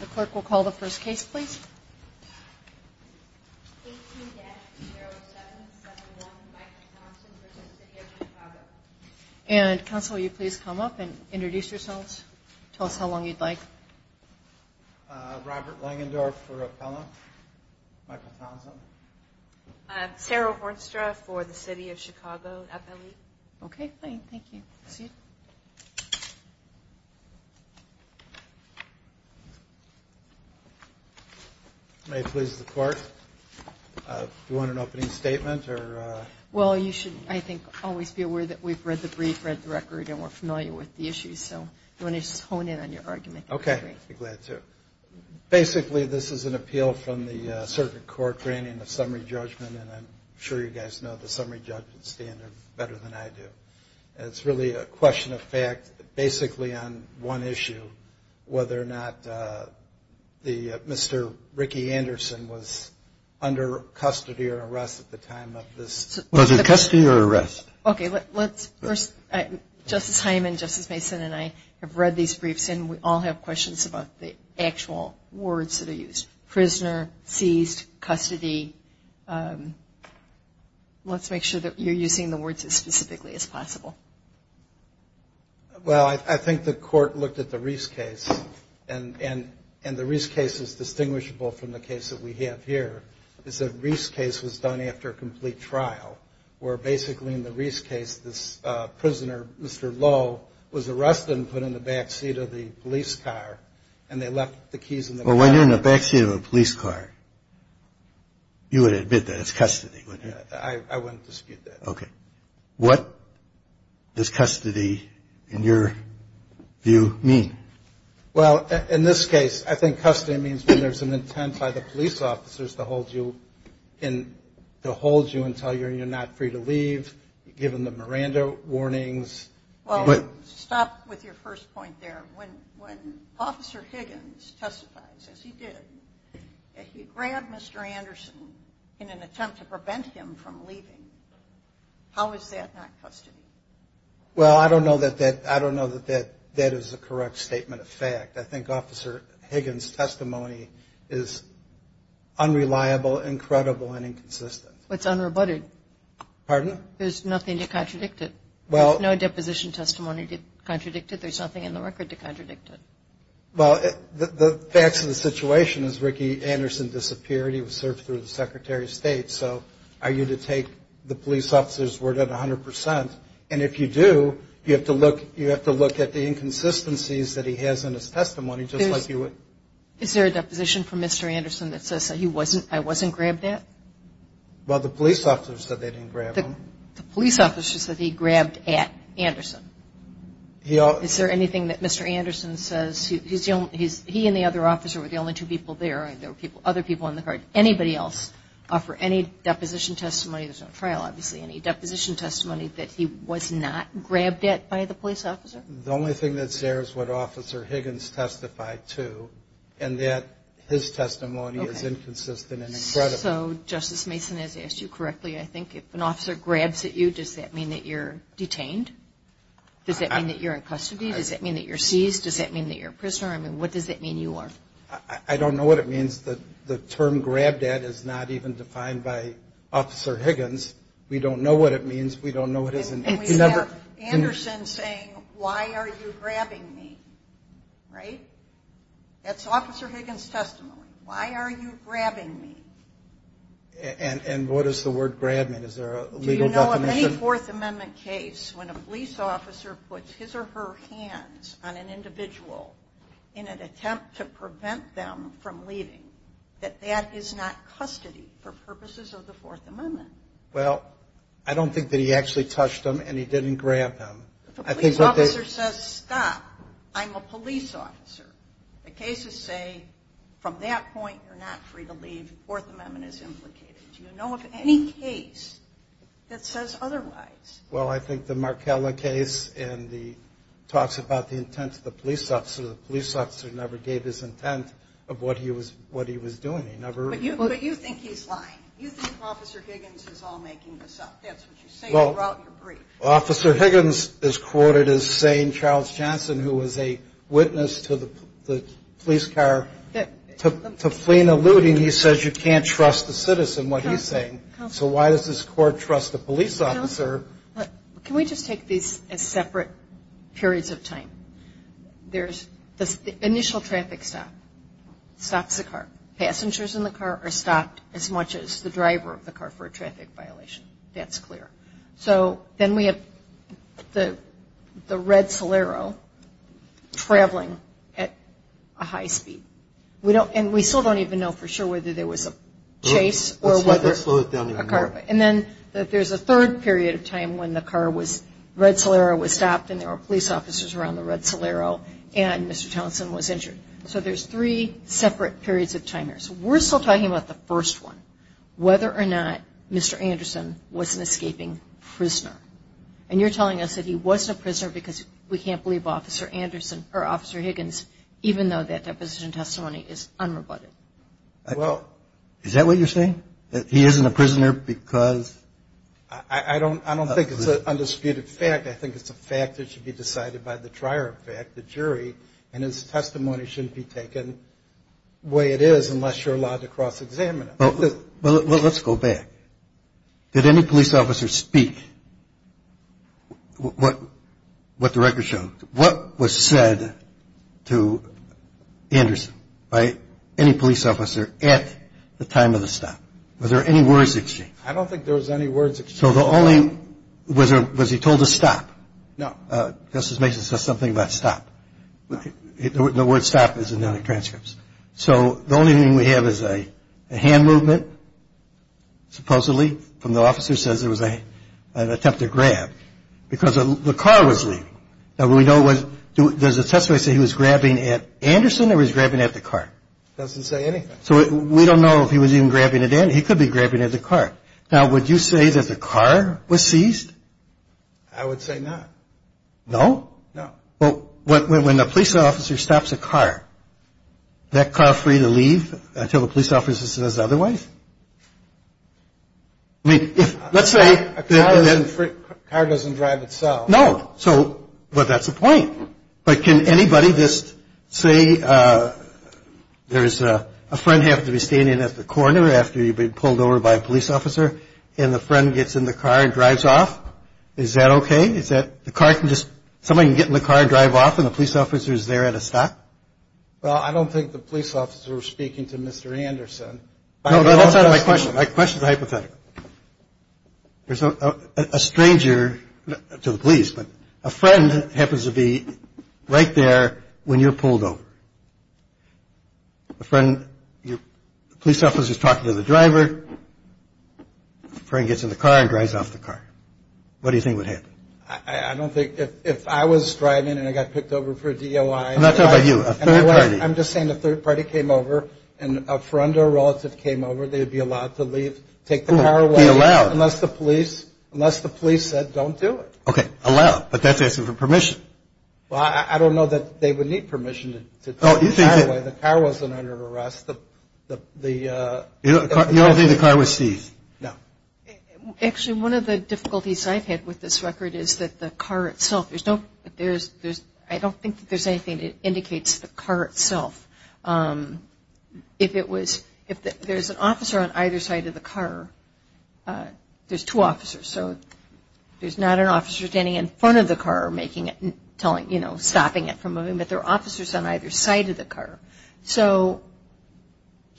The clerk will call the first case, please. 18-0771 Michael Townsend v. City of Chicago And, counsel, will you please come up and introduce yourselves? Tell us how long you'd like. Robert Langendorf for Appellant. Michael Townsend. Sarah Hornstra for the City of Chicago. Okay, fine. Thank you. May it please the Court, do you want an opening statement? Well, you should, I think, always be aware that we've read the brief, read the record, and we're familiar with the issues. So, do you want to just hone in on your argument? Okay, I'd be glad to. Basically, this is an appeal from the Circuit Court granting a summary judgment, and I'm sure you guys know the summary judgment standard better than I do. It's really a question of fact, basically on one issue, whether or not Mr. Ricky Anderson was under custody or arrest at the time of this. Was it custody or arrest? Okay, let's first, Justice Hyman, Justice Mason, and I have read these briefs, and we all have questions about the actual words that are used. Prisoner, seized, custody. Let's make sure that you're using the words as specifically as possible. Well, I think the Court looked at the Reese case, and the Reese case is distinguishable from the case that we have here. The Reese case was done after a complete trial, where basically in the Reese case, this prisoner, Mr. Lowe, was arrested and put in the backseat of the police car, and they left the keys in the car. Well, when you're in the backseat of a police car, you would admit that it's custody, wouldn't you? I wouldn't dispute that. Okay. What does custody, in your view, mean? Well, in this case, I think custody means when there's an intent by the police officers to hold you until you're not free to leave, give them the Miranda warnings. Well, stop with your first point there. When Officer Higgins testifies, as he did, he grabbed Mr. Anderson in an attempt to prevent him from leaving. How is that not custody? Well, I don't know that that is a correct statement of fact. I think Officer Higgins' testimony is unreliable, incredible, and inconsistent. It's unrebutted. Pardon? There's nothing to contradict it. There's no deposition testimony to contradict it. There's nothing in the record to contradict it. Well, the facts of the situation is Ricky Anderson disappeared. He was served through the Secretary of State. So are you to take the police officer's word at 100%? And if you do, you have to look at the inconsistencies that he has in his testimony, just like you would. Is there a deposition from Mr. Anderson that says that I wasn't grabbed at? Well, the police officer said they didn't grab him. The police officer said he grabbed at Anderson. Is there anything that Mr. Anderson says he and the other officer were the only two people there, and there were other people on the card? Anybody else offer any deposition testimony? There's no trial, obviously. Any deposition testimony that he was not grabbed at by the police officer? The only thing that's there is what Officer Higgins testified to, and that his testimony is inconsistent and incredible. So Justice Mason has asked you correctly. I think if an officer grabs at you, does that mean that you're detained? Does that mean that you're in custody? Does that mean that you're seized? Does that mean that you're a prisoner? I mean, what does that mean you are? I don't know what it means. The term grabbed at is not even defined by Officer Higgins. We don't know what it means. We don't know what it is. And we have Anderson saying, why are you grabbing me, right? That's Officer Higgins' testimony. Why are you grabbing me? And what does the word grab mean? Is there a legal definition? Do you know of any Fourth Amendment case when a police officer puts his or her hands on an individual in an attempt to prevent them from leaving, that that is not custody for purposes of the Fourth Amendment? Well, I don't think that he actually touched them and he didn't grab them. If a police officer says, stop, I'm a police officer, the cases say from that point you're not free to leave. The Fourth Amendment is implicated. Do you know of any case that says otherwise? Well, I think the Markella case and the talks about the intent of the police officer, the police officer never gave his intent of what he was doing. But you think he's lying. You think Officer Higgins is all making this up. That's what you say throughout your brief. Well, Officer Higgins is quoted as saying Charles Johnson, who was a witness to the police car, to Flynn alluding he says you can't trust the citizen, what he's saying. So why does this court trust the police officer? Can we just take these as separate periods of time? There's the initial traffic stop stops the car. Passengers in the car are stopped as much as the driver of the car for a traffic violation. That's clear. So then we have the red Solero traveling at a high speed. And we still don't even know for sure whether there was a chase or whether. Let's slow it down even more. Okay. And then there's a third period of time when the car was red Solero was stopped and there were police officers around the red Solero and Mr. Townsend was injured. So there's three separate periods of time. We're still talking about the first one, whether or not Mr. Anderson was an escaping prisoner. And you're telling us that he wasn't a prisoner because we can't believe Officer Anderson or Officer Higgins, even though that deposition testimony is unrebutted. Is that what you're saying? That he isn't a prisoner because? I don't think it's an undisputed fact. I think it's a fact that should be decided by the trier of fact, the jury, and his testimony shouldn't be taken the way it is unless you're allowed to cross-examine it. Well, let's go back. Did any police officer speak what the record showed? What was said to Anderson by any police officer at the time of the stop? Were there any words exchanged? I don't think there was any words exchanged. So the only, was he told to stop? No. Justice Mason said something about stop. The word stop is in the transcripts. So the only thing we have is a hand movement, supposedly, from the officer says it was an attempt to grab because the car was leaving. Now, we know it was, does the testimony say he was grabbing at Anderson or he was grabbing at the car? It doesn't say anything. So we don't know if he was even grabbing at Anderson. He could be grabbing at the car. Now, would you say that the car was seized? I would say not. No? No. Well, when the police officer stops a car, is that car free to leave until the police officer says otherwise? I mean, if, let's say. A car doesn't drive itself. No. So, but that's the point. But can anybody just say there's a friend having to be standing at the corner after you've been pulled over by a police officer, and the friend gets in the car and drives off? Is that okay? Is that the car can just, somebody can get in the car and drive off, and the police officer's there at a stop? Well, I don't think the police officer was speaking to Mr. Anderson. No, but that's not my question. My question's hypothetical. There's a stranger, to the police, but a friend happens to be right there when you're pulled over. A friend, your police officer's talking to the driver. A friend gets in the car and drives off the car. What do you think would happen? I don't think, if I was driving and I got picked over for a DOI. I'm not talking about you. A third party. I'm just saying a third party came over, and a friend or relative came over, they would be allowed to leave, take the car away. Be allowed. Unless the police said don't do it. Okay, allowed. But that's asking for permission. Well, I don't know that they would need permission to take the car away. The car wasn't under arrest. You don't think the car was seized? No. Actually, one of the difficulties I've had with this record is that the car itself, I don't think that there's anything that indicates the car itself. If there's an officer on either side of the car, there's two officers. So there's not an officer standing in front of the car making it, stopping it from moving, but there are officers on either side of the car. So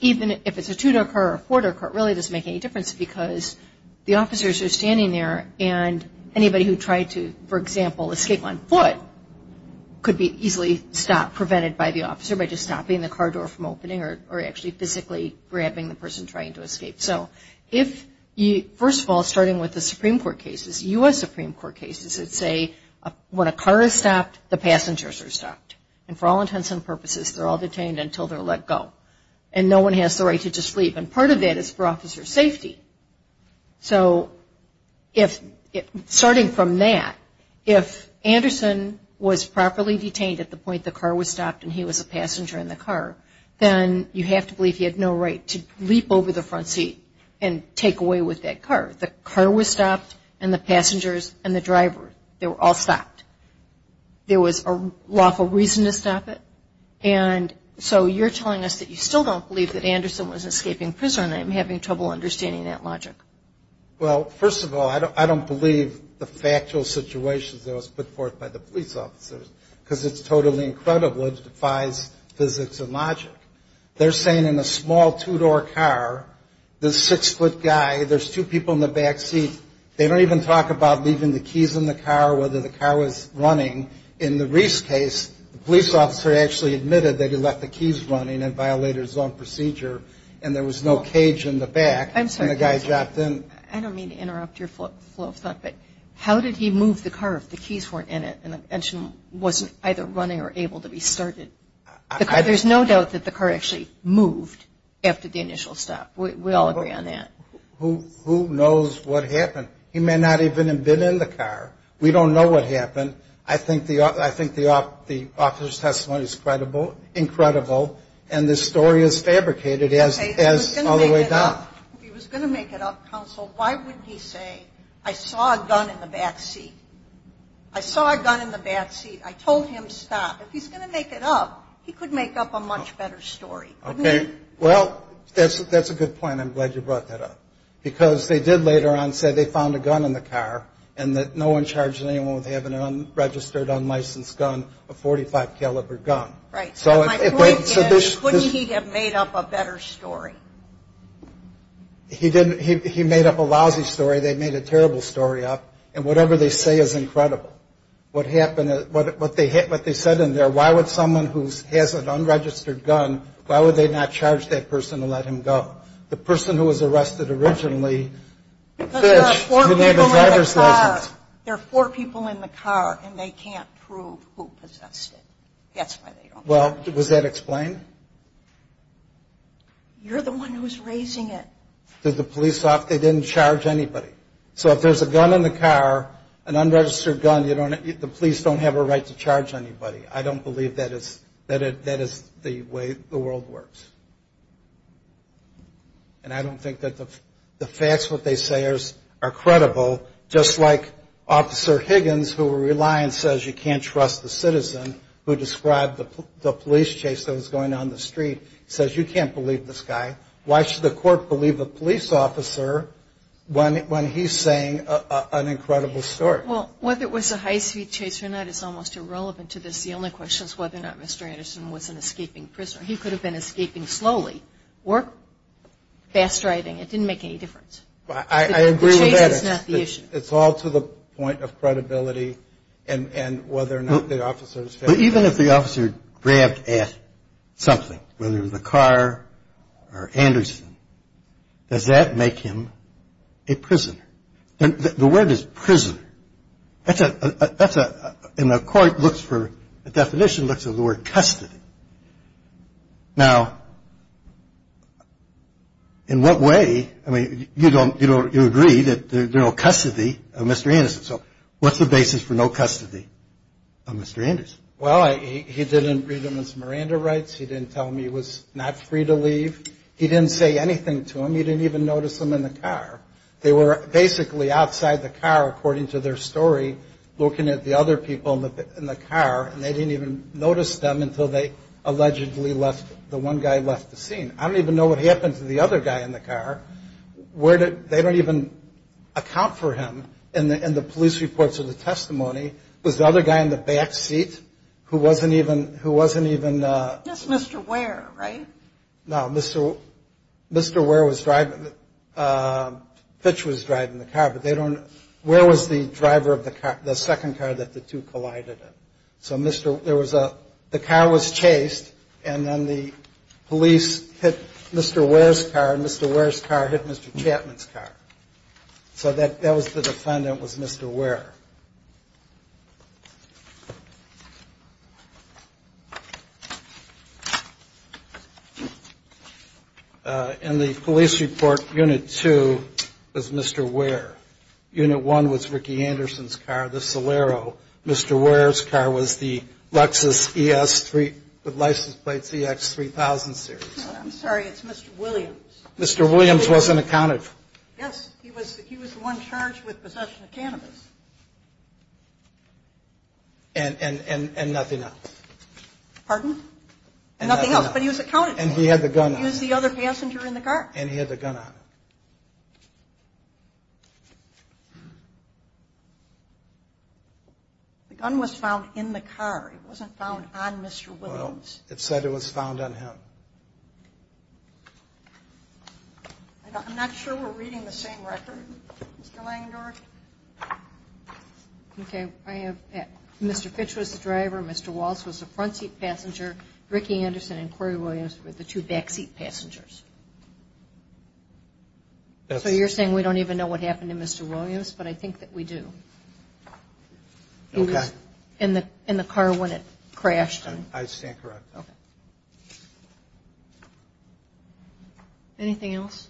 even if it's a two-door car or a four-door car, it really doesn't make any difference because the officers are standing there and anybody who tried to, for example, escape on foot could be easily prevented by the officer by just stopping the car door from opening or actually physically grabbing the person trying to escape. So first of all, starting with the Supreme Court cases, U.S. Supreme Court cases that say when a car is stopped, the passengers are stopped. And for all intents and purposes, they're all detained until they're let go. And no one has the right to just leave. And part of that is for officer safety. So starting from that, if Anderson was properly detained at the point the car was stopped and he was a passenger in the car, then you have to believe he had no right to leap over the front seat and take away with that car. The car was stopped and the passengers and the driver, they were all stopped. There was a lawful reason to stop it. And so you're telling us that you still don't believe that Anderson was escaping prison and I'm having trouble understanding that logic. Well, first of all, I don't believe the factual situations that was put forth by the police officers because it's totally incredible. It defies physics and logic. They're saying in a small two-door car, this six-foot guy, there's two people in the back seat. They don't even talk about leaving the keys in the car, whether the car was running. In the Reese case, the police officer actually admitted that he left the keys running and violated his own procedure and there was no cage in the back. I'm sorry. And the guy dropped in. I don't mean to interrupt your flow of thought, but how did he move the car if the keys weren't in it and the engine wasn't either running or able to be started? There's no doubt that the car actually moved after the initial stop. We all agree on that. Who knows what happened? He may not even have been in the car. We don't know what happened. I think the officer's testimony is credible, incredible, and the story is fabricated all the way down. If he was going to make it up, counsel, why wouldn't he say, I saw a gun in the back seat? I saw a gun in the back seat. I told him to stop. If he's going to make it up, he could make up a much better story. Okay. Well, that's a good point. I'm glad you brought that up because they did later on say they found a gun in the car and that no one charged anyone with having an unregistered, unlicensed gun, a .45 caliber gun. Right. So my point is, wouldn't he have made up a better story? He made up a lousy story. They made a terrible story up. And whatever they say is incredible. What they said in there, why would someone who has an unregistered gun, why would they not charge that person to let him go? The person who was arrested originally, Fitch, who didn't have a driver's license. Because there are four people in the car, and they can't prove who possessed it. That's why they don't charge. Well, was that explained? You're the one who's raising it. Did the police off? They didn't charge anybody. So if there's a gun in the car, an unregistered gun, the police don't have a right to charge anybody. I don't believe that is the way the world works. And I don't think that the facts that they say are credible, just like Officer Higgins who were reliant says you can't trust the citizen, who described the police chase that was going on in the street, says you can't believe this guy. Why should the court believe a police officer when he's saying an incredible story? Well, whether it was a high-speed chase or not is almost irrelevant to this. The only question is whether or not Mr. Anderson was an escaping prisoner. He could have been escaping slowly, or fast driving. It didn't make any difference. I agree with that. The chase is not the issue. It's all to the point of credibility and whether or not the officer was fast driving. But even if the officer grabbed at something, whether it was a car or Anderson, does that make him a prisoner? The word is prisoner. That's a – and the court looks for – the definition looks at the word custody. Now, in what way – I mean, you agree that there's no custody of Mr. Anderson. So what's the basis for no custody of Mr. Anderson? Well, he didn't read him his Miranda rights. He didn't tell him he was not free to leave. He didn't say anything to him. He didn't even notice him in the car. They were basically outside the car, according to their story, looking at the other people in the car, and they didn't even notice them until they allegedly left – the one guy left the scene. I don't even know what happened to the other guy in the car. Where did – they don't even account for him in the police reports or the testimony. It was the other guy in the back seat who wasn't even – who wasn't even – Just Mr. Ware, right? No, Mr. Ware was driving – Pitch was driving the car, but they don't – Ware was the driver of the second car that the two collided in. So Mr. – there was a – the car was chased, and then the police hit Mr. Ware's car, and Mr. Ware's car hit Mr. Chapman's car. So that was the defendant was Mr. Ware. In the police report, Unit 2 was Mr. Ware. Unit 1 was Ricky Anderson's car, the Solero. Mr. Ware's car was the Lexus ES3 with license plates EX3000 series. Mr. Williams wasn't accounted for. Yes, he was the one charged with possession of cannabis. And nothing else. Pardon? And nothing else. But he was accounted for. And he had the gun on him. He was the other passenger in the car. And he had the gun on him. The gun was found in the car. It wasn't found on Mr. Williams. Well, it said it was found on him. I'm not sure we're reading the same record, Mr. Langendorf. Okay. I have – Mr. Fitch was the driver, Mr. Walts was the front seat passenger, Ricky Anderson and Corey Williams were the two back seat passengers. So you're saying we don't even know what happened to Mr. Williams, but I think that we do. Okay. He was in the car when it crashed. I stand corrected. Okay. Anything else?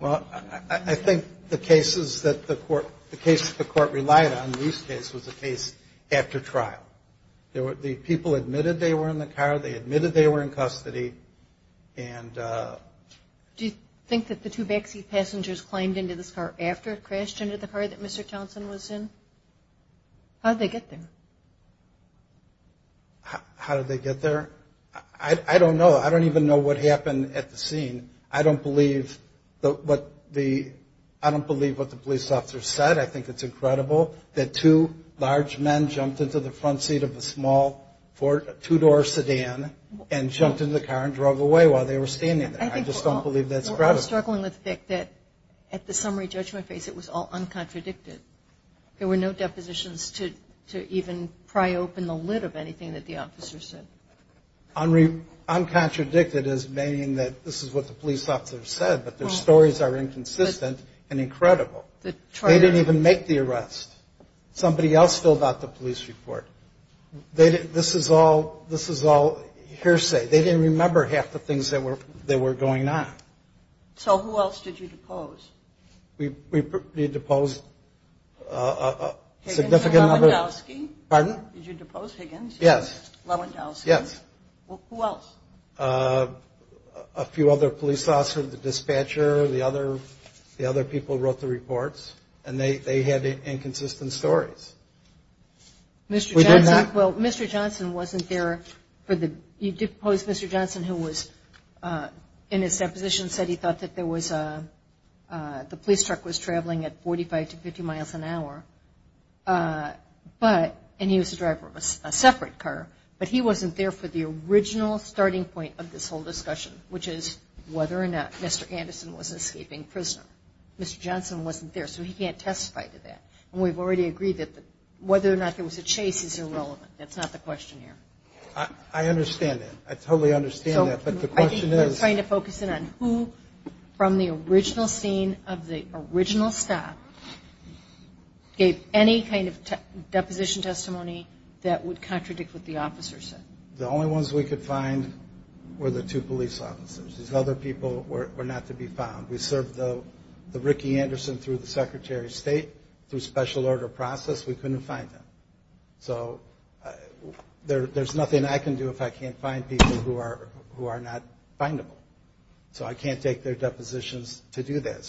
Well, I think the cases that the court – the case that the court relied on, Lief's case, was a case after trial. The people admitted they were in the car. They admitted they were in custody. And – Do you think that the two back seat passengers climbed into this car after it crashed into the car that Mr. Townsend was in? How did they get there? How did they get there? I don't know. I don't even know what happened at the scene. I don't believe what the – I don't believe what the police officer said. I think it's incredible that two large men jumped into the front seat of a small two-door sedan and jumped into the car and drove away while they were standing there. I just don't believe that's credible. I'm struggling with the fact that, at the summary judgment phase, it was all uncontradicted. There were no depositions to even pry open the lid of anything that the officer said. Uncontradicted is meaning that this is what the police officer said, but their stories are inconsistent and incredible. They didn't even make the arrest. Somebody else filled out the police report. This is all hearsay. They didn't remember half the things that were going on. So who else did you depose? We deposed a significant number – Higgins or Lewandowski? Pardon? Did you depose Higgins? Yes. Lewandowski? Yes. Who else? A few other police officers, the dispatcher, the other people who wrote the reports, and they had inconsistent stories. Mr. Johnson? We did not. Well, Mr. Johnson wasn't there for the – you deposed Mr. Johnson, who was in his deposition, said he thought that there was a – the police truck was traveling at 45 to 50 miles an hour, but – and he was the driver of a separate car, but he wasn't there for the original starting point of this whole discussion, which is whether or not Mr. Anderson was an escaping prisoner. Mr. Johnson wasn't there, so he can't testify to that. And we've already agreed that whether or not there was a chase is irrelevant. That's not the question here. I understand that. I totally understand that, but the question is – gave any kind of deposition testimony that would contradict what the officer said. The only ones we could find were the two police officers. These other people were not to be found. We served the Ricky Anderson through the Secretary of State, through special order process. We couldn't find them. So there's nothing I can do if I can't find people who are not findable. So I can't take their depositions to do that.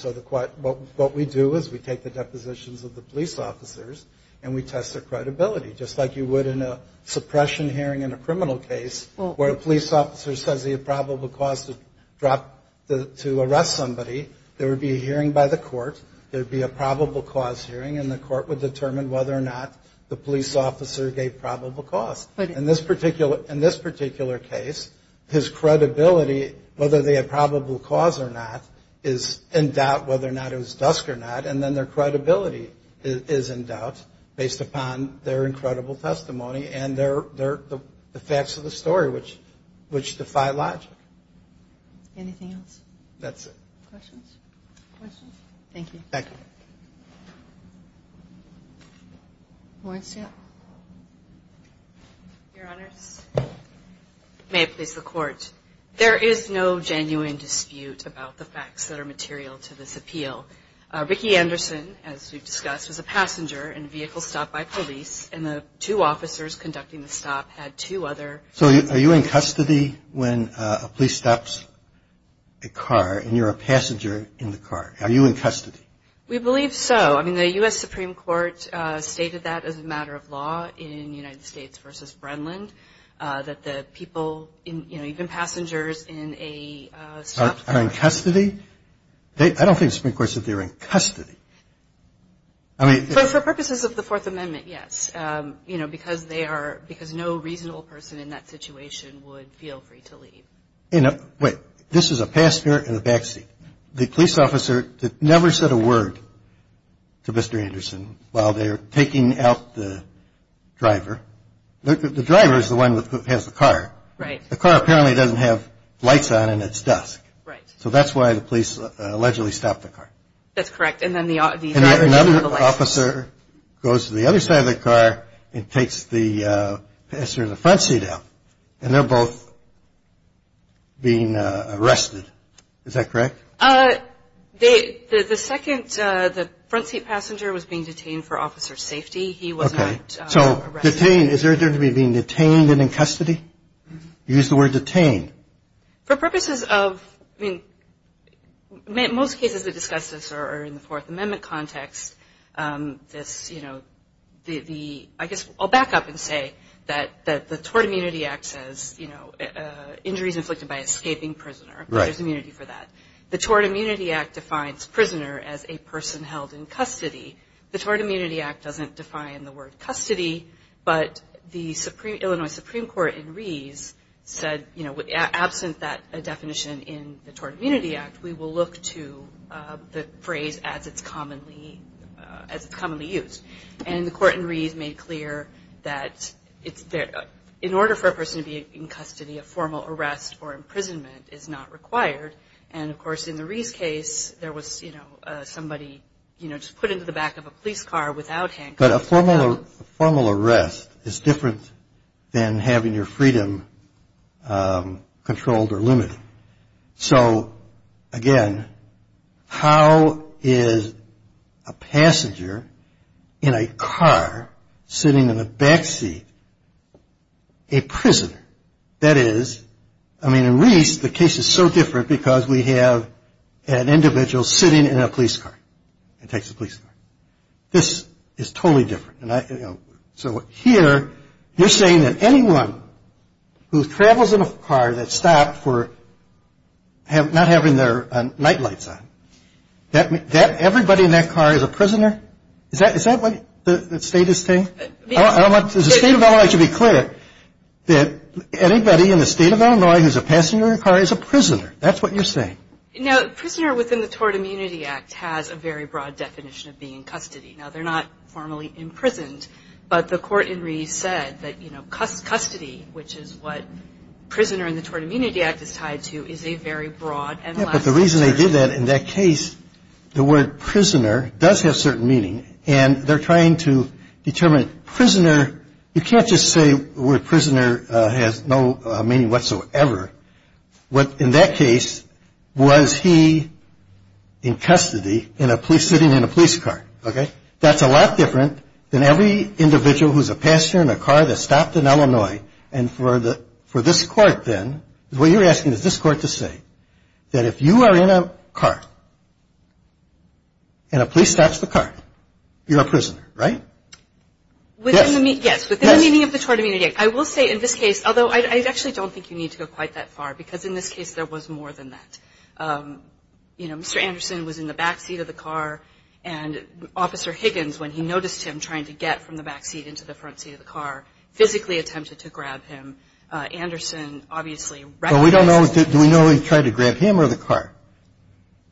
What we do is we take the depositions of the police officers and we test their credibility, just like you would in a suppression hearing in a criminal case where a police officer says he had probable cause to arrest somebody. There would be a hearing by the court. There would be a probable cause hearing, and the court would determine whether or not the police officer gave probable cause. In this particular case, his credibility, whether they had probable cause or not, is in doubt whether or not it was dusk or not, and then their credibility is in doubt based upon their incredible testimony and the facts of the story, which defy logic. Anything else? That's it. Questions? Questions? Thank you. Thank you. Lawrence, yeah. Your Honors, may it please the Court. There is no genuine dispute about the facts that are material to this appeal. Ricky Anderson, as we've discussed, was a passenger in a vehicle stopped by police, and the two officers conducting the stop had two other. So are you in custody when a police stops a car and you're a passenger in the car? Are you in custody? We believe so. I mean, the U.S. Supreme Court stated that as a matter of law in United States v. that the people, you know, even passengers in a stopped car. Are in custody? I don't think the Supreme Court said they were in custody. For purposes of the Fourth Amendment, yes, you know, because no reasonable person in that situation would feel free to leave. Wait. This is a passenger in the backseat. The police officer never said a word to Mr. Anderson while they were taking out the driver. The driver is the one that has the car. Right. The car apparently doesn't have lights on and it's dusk. Right. So that's why the police allegedly stopped the car. That's correct. And then the officers. Another officer goes to the other side of the car and takes the passenger in the front seat out, and they're both being arrested. Is that correct? The second, the front seat passenger was being detained for officer safety. He was not arrested. Okay. So detained, is there a difference between detained and in custody? You used the word detained. For purposes of, I mean, most cases that discuss this are in the Fourth Amendment context. This, you know, the, I guess I'll back up and say that the Tort Immunity Act says, you know, injuries inflicted by escaping prisoner. Right. There's immunity for that. The Tort Immunity Act defines prisoner as a person held in custody. The Tort Immunity Act doesn't define the word custody, but the Illinois Supreme Court in Rees said, you know, absent that definition in the Tort Immunity Act, we will look to the phrase as it's commonly used. And the court in Rees made clear that in order for a person to be in custody, a formal arrest or imprisonment is not required. And, of course, in the Rees case, there was, you know, somebody, you know, just put into the back of a police car without handcuffs. But a formal arrest is different than having your freedom controlled or limited. So, again, how is a passenger in a car sitting in a back seat a prisoner? That is, I mean, in Rees, the case is so different because we have an individual sitting in a police car and takes a police car. This is totally different. So here you're saying that anyone who travels in a car that's stopped for not having their nightlights on, that everybody in that car is a prisoner? Is that what the state is saying? I don't want the State of Illinois to be clear that anybody in the State of Illinois who's a passenger in a car is a prisoner. That's what you're saying. Now, prisoner within the Tort Immunity Act has a very broad definition of being in custody. Now, they're not formally imprisoned, but the court in Rees said that, you know, custody, which is what prisoner in the Tort Immunity Act is tied to, is a very broad and lasting term. Yeah, but the reason they did that in that case, the word prisoner does have certain meaning. And they're trying to determine prisoner. You can't just say the word prisoner has no meaning whatsoever. In that case, was he in custody sitting in a police car, okay? That's a lot different than every individual who's a passenger in a car that's stopped in Illinois. And for this court, then, what you're asking is this court to say that if you are in a car and a police stops the car, you're a prisoner, right? Yes. Yes, within the meaning of the Tort Immunity Act. I will say in this case, although I actually don't think you need to go quite that far, because in this case there was more than that. You know, Mr. Anderson was in the back seat of the car, and Officer Higgins, when he noticed him trying to get from the back seat into the front seat of the car, physically attempted to grab him. Anderson obviously recognized him. But we don't know, do we know he tried to grab him or the car?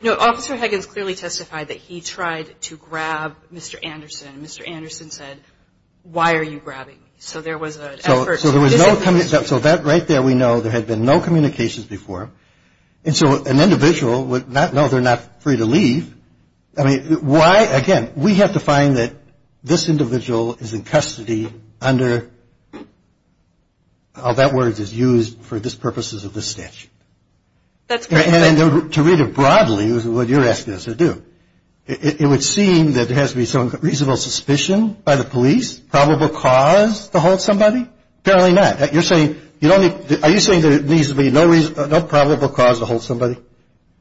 No, Officer Higgins clearly testified that he tried to grab Mr. Anderson. Mr. Anderson said, why are you grabbing me? So there was an effort. So there was no, so that right there we know there had been no communications before. And so an individual would not know they're not free to leave. I mean, why, again, we have to find that this individual is in custody under, how that word is used for the purposes of this statute. That's correct. And to read it broadly, what you're asking us to do, it would seem that there has to be some reasonable suspicion by the police, probable cause to hold somebody. Apparently not. You're saying, are you saying there needs to be no probable cause to hold somebody,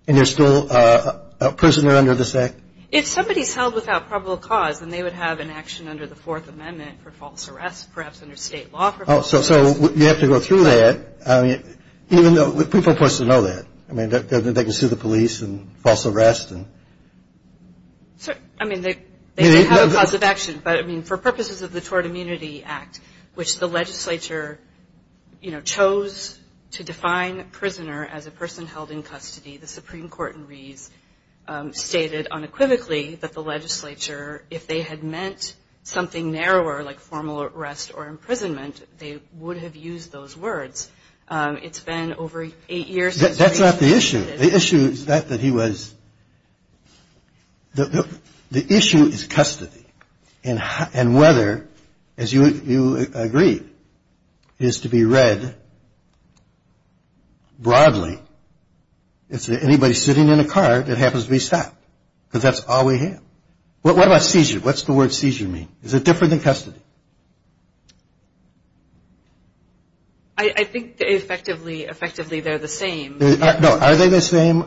and there's still a prisoner under this act? If somebody's held without probable cause, then they would have an action under the Fourth Amendment for false arrest, perhaps under state law for false arrest. So you have to go through that, even though people are supposed to know that. I mean, they can sue the police and false arrest. I mean, they have a cause of action. But, I mean, for purposes of the Tort Immunity Act, which the legislature, you know, chose to define prisoner as a person held in custody, the Supreme Court in Rees stated unequivocally that the legislature, if they had meant something narrower like formal arrest or imprisonment, they would have used those words. It's been over eight years since Rees. That's not the issue. The issue is that he was, the issue is custody. And whether, as you agree, is to be read broadly as anybody sitting in a car that happens to be stopped, because that's all we have. What about seizure? What's the word seizure mean? Is it different than custody? I think effectively they're the same. No, are they the same?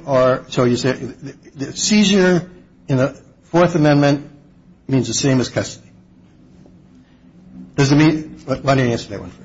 Seizure in the Fourth Amendment means the same as custody. Does it mean, why don't you answer that one first?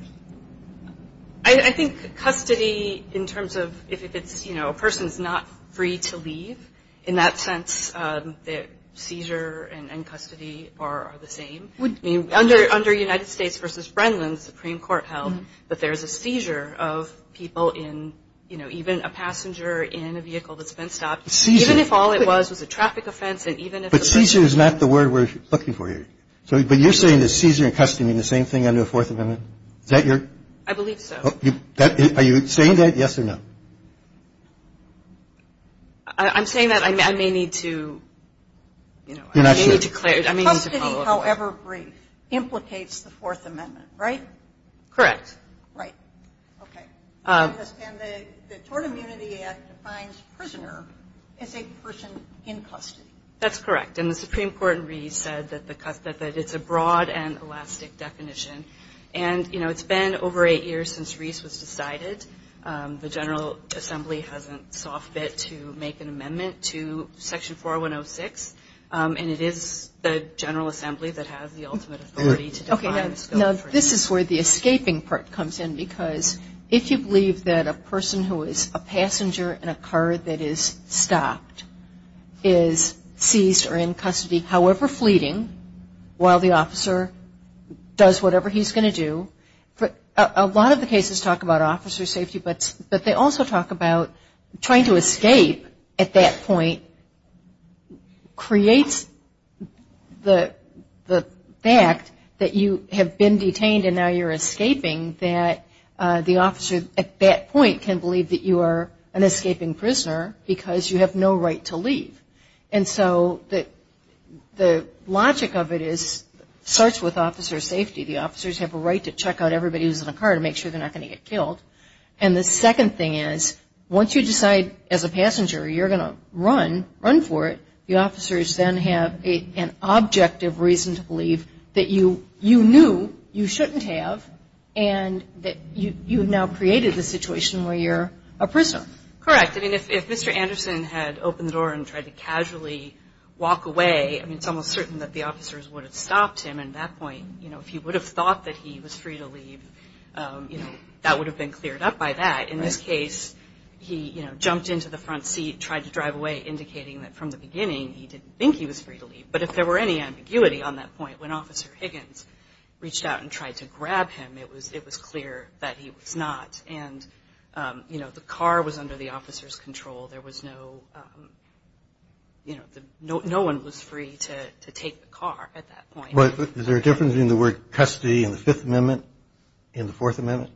I think custody in terms of if it's, you know, a person's not free to leave, in that sense the seizure and custody are the same. Under United States v. Brennan, the Supreme Court held that there's a seizure of people in, you know, a passenger in a vehicle that's been stopped. Seizure. Even if all it was was a traffic offense and even if the person. But seizure is not the word we're looking for here. But you're saying that seizure and custody are the same thing under the Fourth Amendment? Is that your? I believe so. Are you saying that, yes or no? I'm saying that I may need to, you know, I may need to clarify. You're not sure. Custody, however brief, implicates the Fourth Amendment, right? Correct. Right. Okay. And the Tort Immunity Act defines prisoner as a person in custody. That's correct. And the Supreme Court in Reese said that it's a broad and elastic definition. And, you know, it's been over eight years since Reese was decided. The General Assembly hasn't soft bit to make an amendment to Section 4106, and it is the General Assembly that has the ultimate authority to define the scope. Now, this is where the escaping part comes in, because if you believe that a person who is a passenger in a car that is stopped is seized or in custody, however fleeting, while the officer does whatever he's going to do, a lot of the cases talk about officer safety, but they also talk about trying to escape at that point creates the fact that you have been detained and now you're escaping, that the officer at that point can believe that you are an escaping prisoner because you have no right to leave. And so the logic of it starts with officer safety. The officers have a right to check out everybody who's in a car to make sure they're not going to get killed. And the second thing is, once you decide as a passenger you're going to run, run for it, the officers then have an objective reason to believe that you knew you shouldn't have and that you have now created the situation where you're a prisoner. Correct. I mean, if Mr. Anderson had opened the door and tried to casually walk away, I mean, it's almost certain that the officers would have stopped him at that point. You know, if he would have thought that he was free to leave, you know, that would have been cleared up by that. In this case, he, you know, jumped into the front seat, tried to drive away indicating that from the beginning he didn't think he was free to leave. But if there were any ambiguity on that point when Officer Higgins reached out and tried to grab him, it was clear that he was not. And, you know, the car was under the officer's control. There was no, you know, no one was free to take the car at that point. Is there a difference between the word custody in the Fifth Amendment and the Fourth Amendment?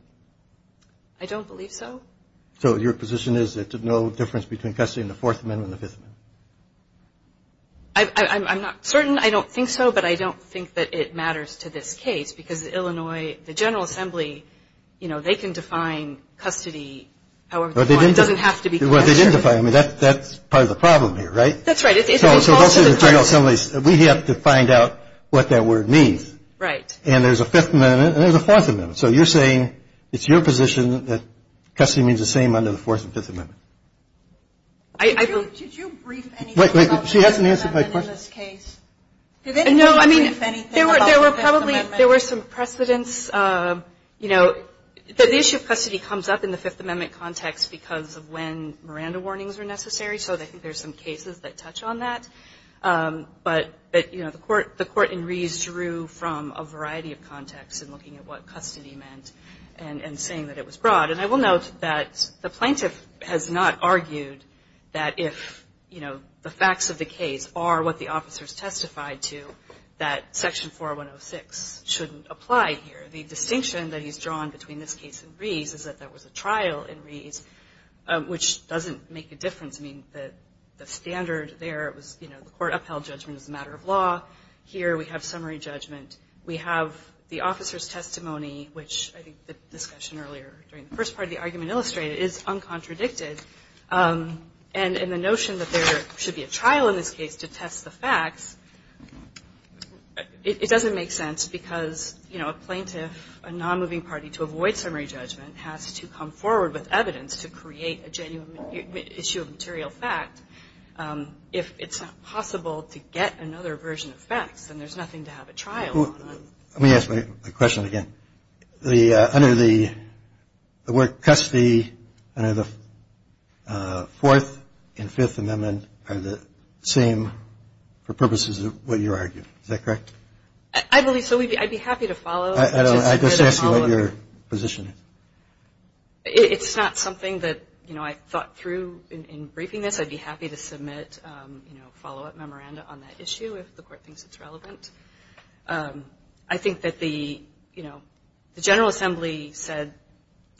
I don't believe so. So your position is that there's no difference between custody in the Fourth Amendment and the Fifth Amendment? I'm not certain. I don't think so. But I don't think that it matters to this case because Illinois, the General Assembly, you know, they can define custody however they want. It doesn't have to be custody. Well, they didn't define it. I mean, that's part of the problem here, right? That's right. So those are the General Assemblies. We have to find out what that word means. Right. And there's a Fifth Amendment and there's a Fourth Amendment. So you're saying it's your position that custody means the same under the Fourth and Fifth Amendment? Did you brief anything about the Fifth Amendment in this case? Wait, wait. She hasn't answered my question. Did anybody brief anything about the Fifth Amendment? No. I mean, there were probably some precedents, you know. The issue of custody comes up in the Fifth Amendment context because of when Miranda warnings were necessary. So I think there's some cases that touch on that. But, you know, the court in Rees drew from a variety of contexts in looking at what custody meant and saying that it was broad. And I will note that the plaintiff has not argued that if, you know, the facts of the case are what the officers testified to, that Section 4106 shouldn't apply here. The distinction that he's drawn between this case and Rees is that there was a trial in Rees, which doesn't make a difference. I mean, the standard there was, you know, the court upheld judgment as a matter of law. Here we have summary judgment. We have the officer's testimony, which I think the discussion earlier during the first part of the argument illustrated is uncontradicted. And the notion that there should be a trial in this case to test the facts, it doesn't make sense because, you know, a plaintiff, a non-moving party, to avoid summary judgment has to come forward with evidence to create a genuine issue of material fact. If it's not possible to get another version of facts, then there's nothing to have a trial on. Let me ask my question again. Under the word custody, under the Fourth and Fifth Amendment are the same for purposes of what you argue. Is that correct? I believe so. I'd be happy to follow. I just ask you what your position is. It's not something that, you know, I thought through in briefing this. I'd be happy to submit, you know, follow-up memoranda on that issue if the court thinks it's relevant. I think that the, you know, the General Assembly said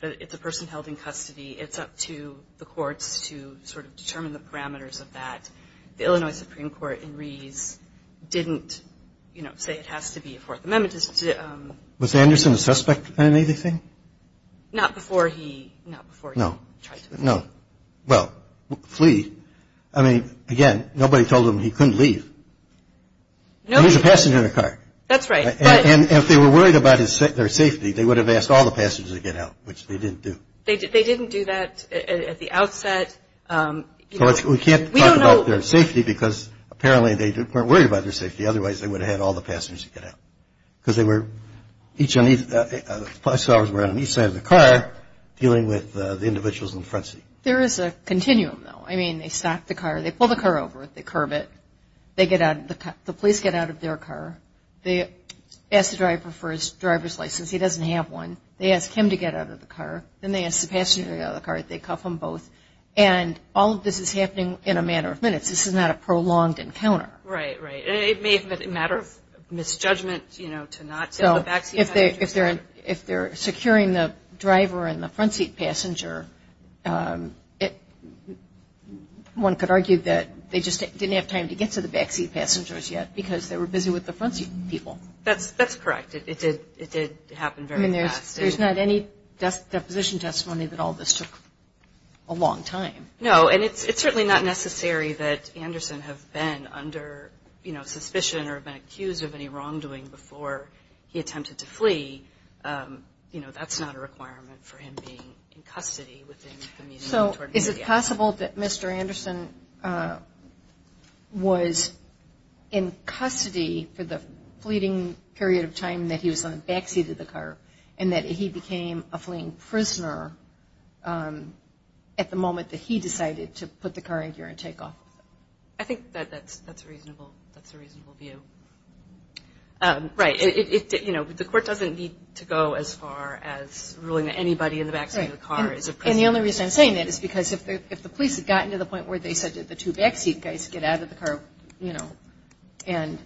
that if the person held in custody, it's up to the courts to sort of determine the parameters of that. The Illinois Supreme Court in Rees didn't, you know, say it has to be a Fourth Amendment. Was Anderson a suspect in anything? Not before he tried to flee. No. Well, flee. I mean, again, nobody told him he couldn't leave. He was a passenger in a car. That's right. And if they were worried about their safety, they would have asked all the passengers to get out, which they didn't do. They didn't do that at the outset. We can't talk about their safety because apparently they weren't worried about their safety, otherwise they would have had all the passengers to get out because they were each on each side of the car, dealing with the individuals in the front seat. There is a continuum, though. I mean, they stop the car, they pull the car over, they curb it. They get out of the car. The police get out of their car. They ask the driver for his driver's license. He doesn't have one. They ask him to get out of the car. Then they ask the passenger to get out of the car. They cuff them both. And all of this is happening in a matter of minutes. This is not a prolonged encounter. Right, right. It may have been a matter of misjudgment, you know, to not send the back seat passengers. So if they're securing the driver and the front seat passenger, one could argue that they just didn't have time to get to the back seat passengers yet because they were busy with the front seat people. That's correct. It did happen very fast. I mean, there's not any deposition testimony that all this took a long time. No, and it's certainly not necessary that Anderson have been under, you know, suspicion or been accused of any wrongdoing before he attempted to flee. You know, that's not a requirement for him being in custody within the meeting. So is it possible that Mr. Anderson was in custody for the fleeting period of time that he was on the back seat of the car and that he became a fleeing prisoner at the moment that he decided to put the car in gear and take off? I think that's a reasonable view. Right. You know, the court doesn't need to go as far as ruling that anybody in the back seat of the car is a prisoner. And the only reason I'm saying that is because if the police had gotten to the point where they said, did the two back seat guys get out of the car, you know, and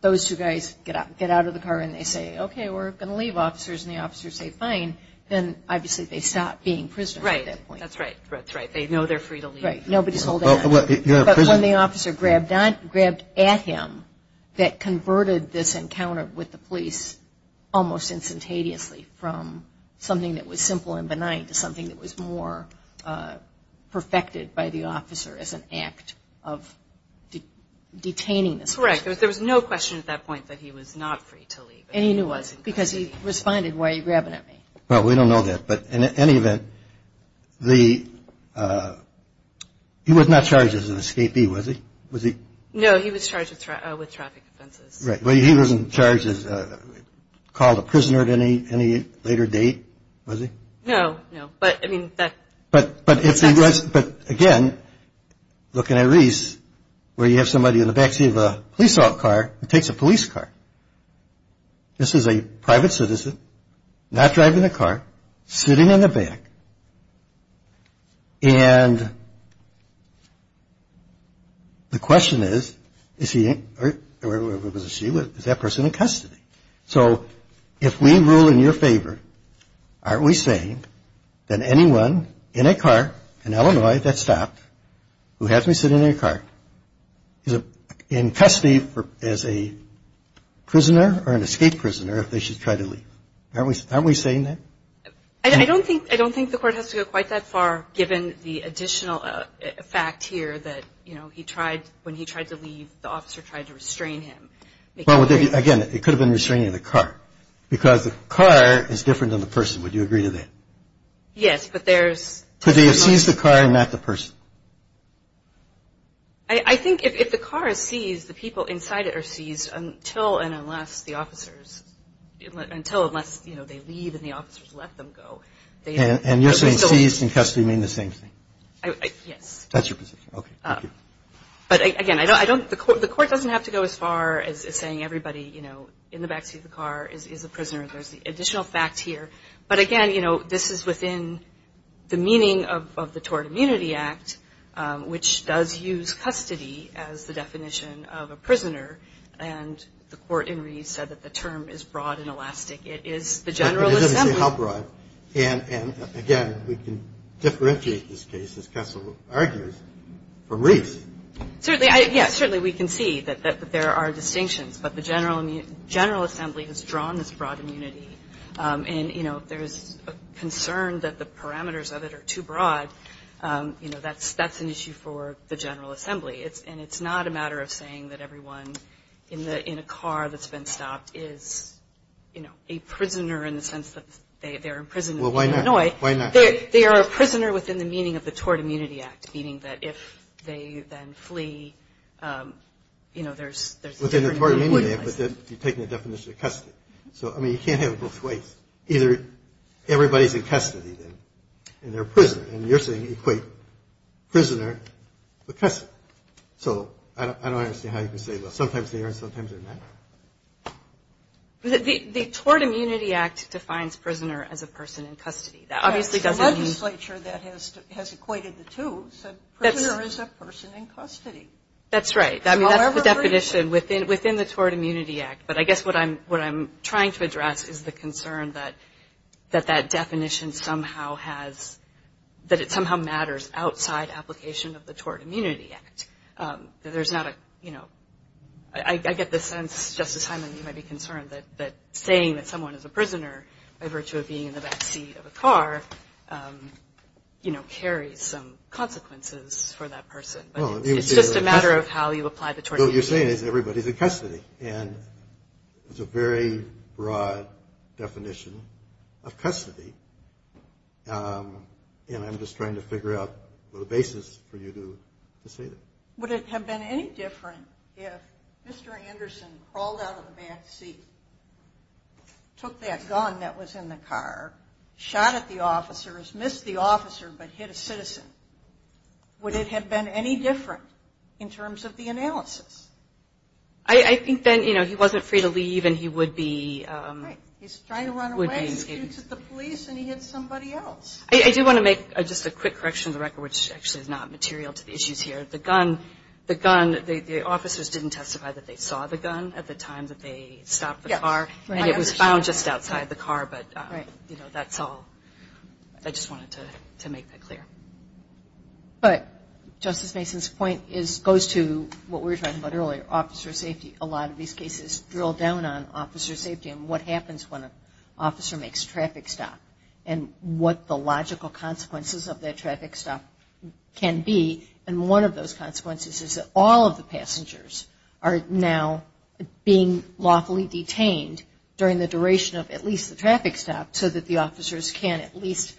those two guys get out of the car and they say, okay, we're going to leave, officers, and the officers say fine, then obviously they stop being prisoners at that point. Right. That's right. That's right. They know they're free to leave. Right. Nobody's holding them. But when the officer grabbed at him, that converted this encounter with the police almost instantaneously from something that was simple and benign to something that was more perfected by the officer as an act of detaining this person. Correct. There was no question at that point that he was not free to leave. And he knew he wasn't because he responded, why are you grabbing at me? Well, we don't know that. But in any event, he was not charged as an escapee, was he? No, he was charged with traffic offenses. Right. Well, he wasn't charged, called a prisoner at any later date, was he? No, no. But, again, looking at Reese, where you have somebody in the backseat of a police off car who takes a police car. This is a private citizen, not driving a car, sitting in the back. And the question is, is he or she, is that person in custody? So if we rule in your favor, aren't we saying that anyone in a car in Illinois that's stopped, who has to sit in a car, is in custody as a prisoner or an escape prisoner if they should try to leave? Aren't we saying that? I don't think the court has to go quite that far, given the additional fact here that, you know, when he tried to leave, the officer tried to restrain him. Well, again, it could have been restraining of the car. Because the car is different than the person. Would you agree to that? Yes, but there's... Could they have seized the car and not the person? I think if the car is seized, the people inside it are seized until and unless the officers, until unless, you know, they leave and the officers let them go. And you're saying seized in custody mean the same thing? Yes. That's your position. Okay. Thank you. But, again, I don't, the court doesn't have to go as far as saying everybody, you know, in the back seat of the car is a prisoner. There's the additional fact here. But, again, you know, this is within the meaning of the Tort Immunity Act, which does use custody as the definition of a prisoner. And the court in Reed said that the term is broad and elastic. It is the General Assembly. It doesn't say how broad. And, again, we can differentiate this case, as Kessel argues, from Reed's. Certainly. Yes, certainly we can see that there are distinctions. But the General Assembly has drawn this broad immunity. And, you know, there is a concern that the parameters of it are too broad. You know, that's an issue for the General Assembly. And it's not a matter of saying that everyone in a car that's been stopped is, you know, a prisoner in the sense that they're in prison in Illinois. Well, why not? They are a prisoner within the meaning of the Tort Immunity Act, meaning that if they then flee, you know, there's a different meaning. Within the Tort Immunity Act, but you're taking the definition of custody. So, I mean, you can't have it both ways. Either everybody's in custody, then, and they're prisoners. And you're saying equate prisoner with custody. So I don't understand how you can say, well, sometimes they are and sometimes they're not. The Tort Immunity Act defines prisoner as a person in custody. That obviously doesn't mean. The legislature that has equated the two said prisoner is a person in custody. That's right. That's the definition within the Tort Immunity Act. But I guess what I'm trying to address is the concern that that definition somehow has, that it somehow matters outside application of the Tort Immunity Act. There's not a, you know, I get the sense, Justice Hyman, you might be concerned that saying that someone is a prisoner by virtue of being in the backseat of a car, you know, carries some consequences for that person. It's just a matter of how you apply the Tort Immunity Act. What you're saying is everybody's in custody. And I'm just trying to figure out the basis for you to say that. Would it have been any different if Mr. Anderson crawled out of the backseat, took that gun that was in the car, shot at the officers, missed the officer, but hit a citizen? Would it have been any different in terms of the analysis? I think then, you know, he wasn't free to leave and he would be. Right. He's trying to run away, shoots at the police, and he hits somebody else. I do want to make just a quick correction to the record, which actually is not material to the issues here. The gun, the officers didn't testify that they saw the gun at the time that they stopped the car. Yes. And it was found just outside the car. Right. But, you know, that's all. I just wanted to make that clear. But Justice Mason's point goes to what we were talking about earlier, officer safety. A lot of these cases drill down on officer safety and what happens when an officer makes a traffic stop and what the logical consequences of that traffic stop can be. And one of those consequences is that all of the passengers are now being lawfully detained during the duration of at least the traffic stop so that the officers can at least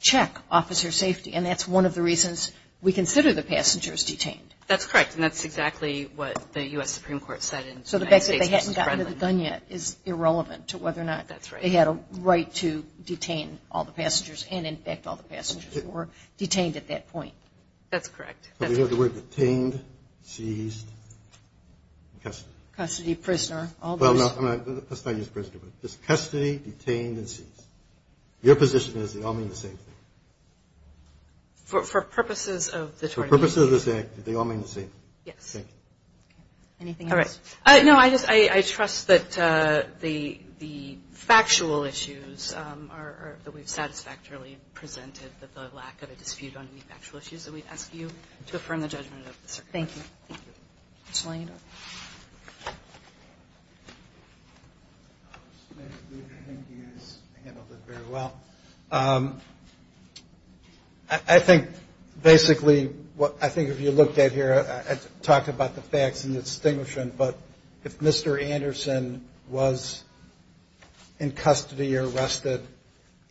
check officer safety. And that's one of the reasons we consider the passengers detained. That's correct. And that's exactly what the U.S. Supreme Court said in United States v. Fredman. So the fact that they hadn't gotten to the gun yet is irrelevant to whether or not they had a right to detain all the passengers and, in fact, all the passengers who were detained at that point. That's correct. We have the word detained, seized, and custody. Custody, prisoner, all those. Well, no, let's not use prisoner. It's custody, detained, and seized. Your position is they all mean the same thing. For purposes of the tournament. For purposes of this act, they all mean the same. Yes. Thank you. Anything else? No, I just trust that the factual issues that we've satisfactorily presented, that the lack of a dispute on any factual issues, that we ask you to affirm the judgment of the circuit. Thank you. Thank you. Mr. Langendorf. I think, basically, I think if you looked at here, I talked about the facts and the distinguishing, but if Mr. Anderson was in custody or arrested,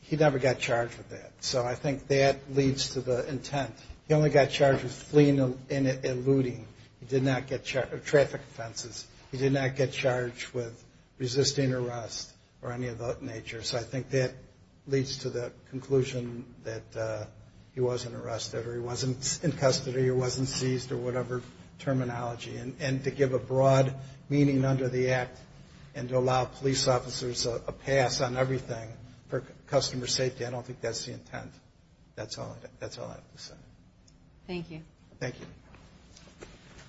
he never got charged with that. So I think that leads to the intent. He only got charged with fleeing and looting. He did not get traffic offenses. He did not get charged with resisting arrest or any of that nature. So I think that leads to the conclusion that he wasn't arrested or he wasn't in custody or wasn't seized or whatever terminology. And to give a broad meaning under the act and to allow police officers a pass on everything for customer safety, I don't think that's the intent. That's all I have to say. Thank you. Thank you.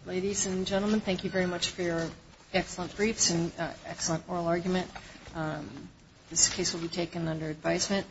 Ladies and gentlemen, thank you very much for your excellent briefs and excellent oral argument. This case will be taken under advisement.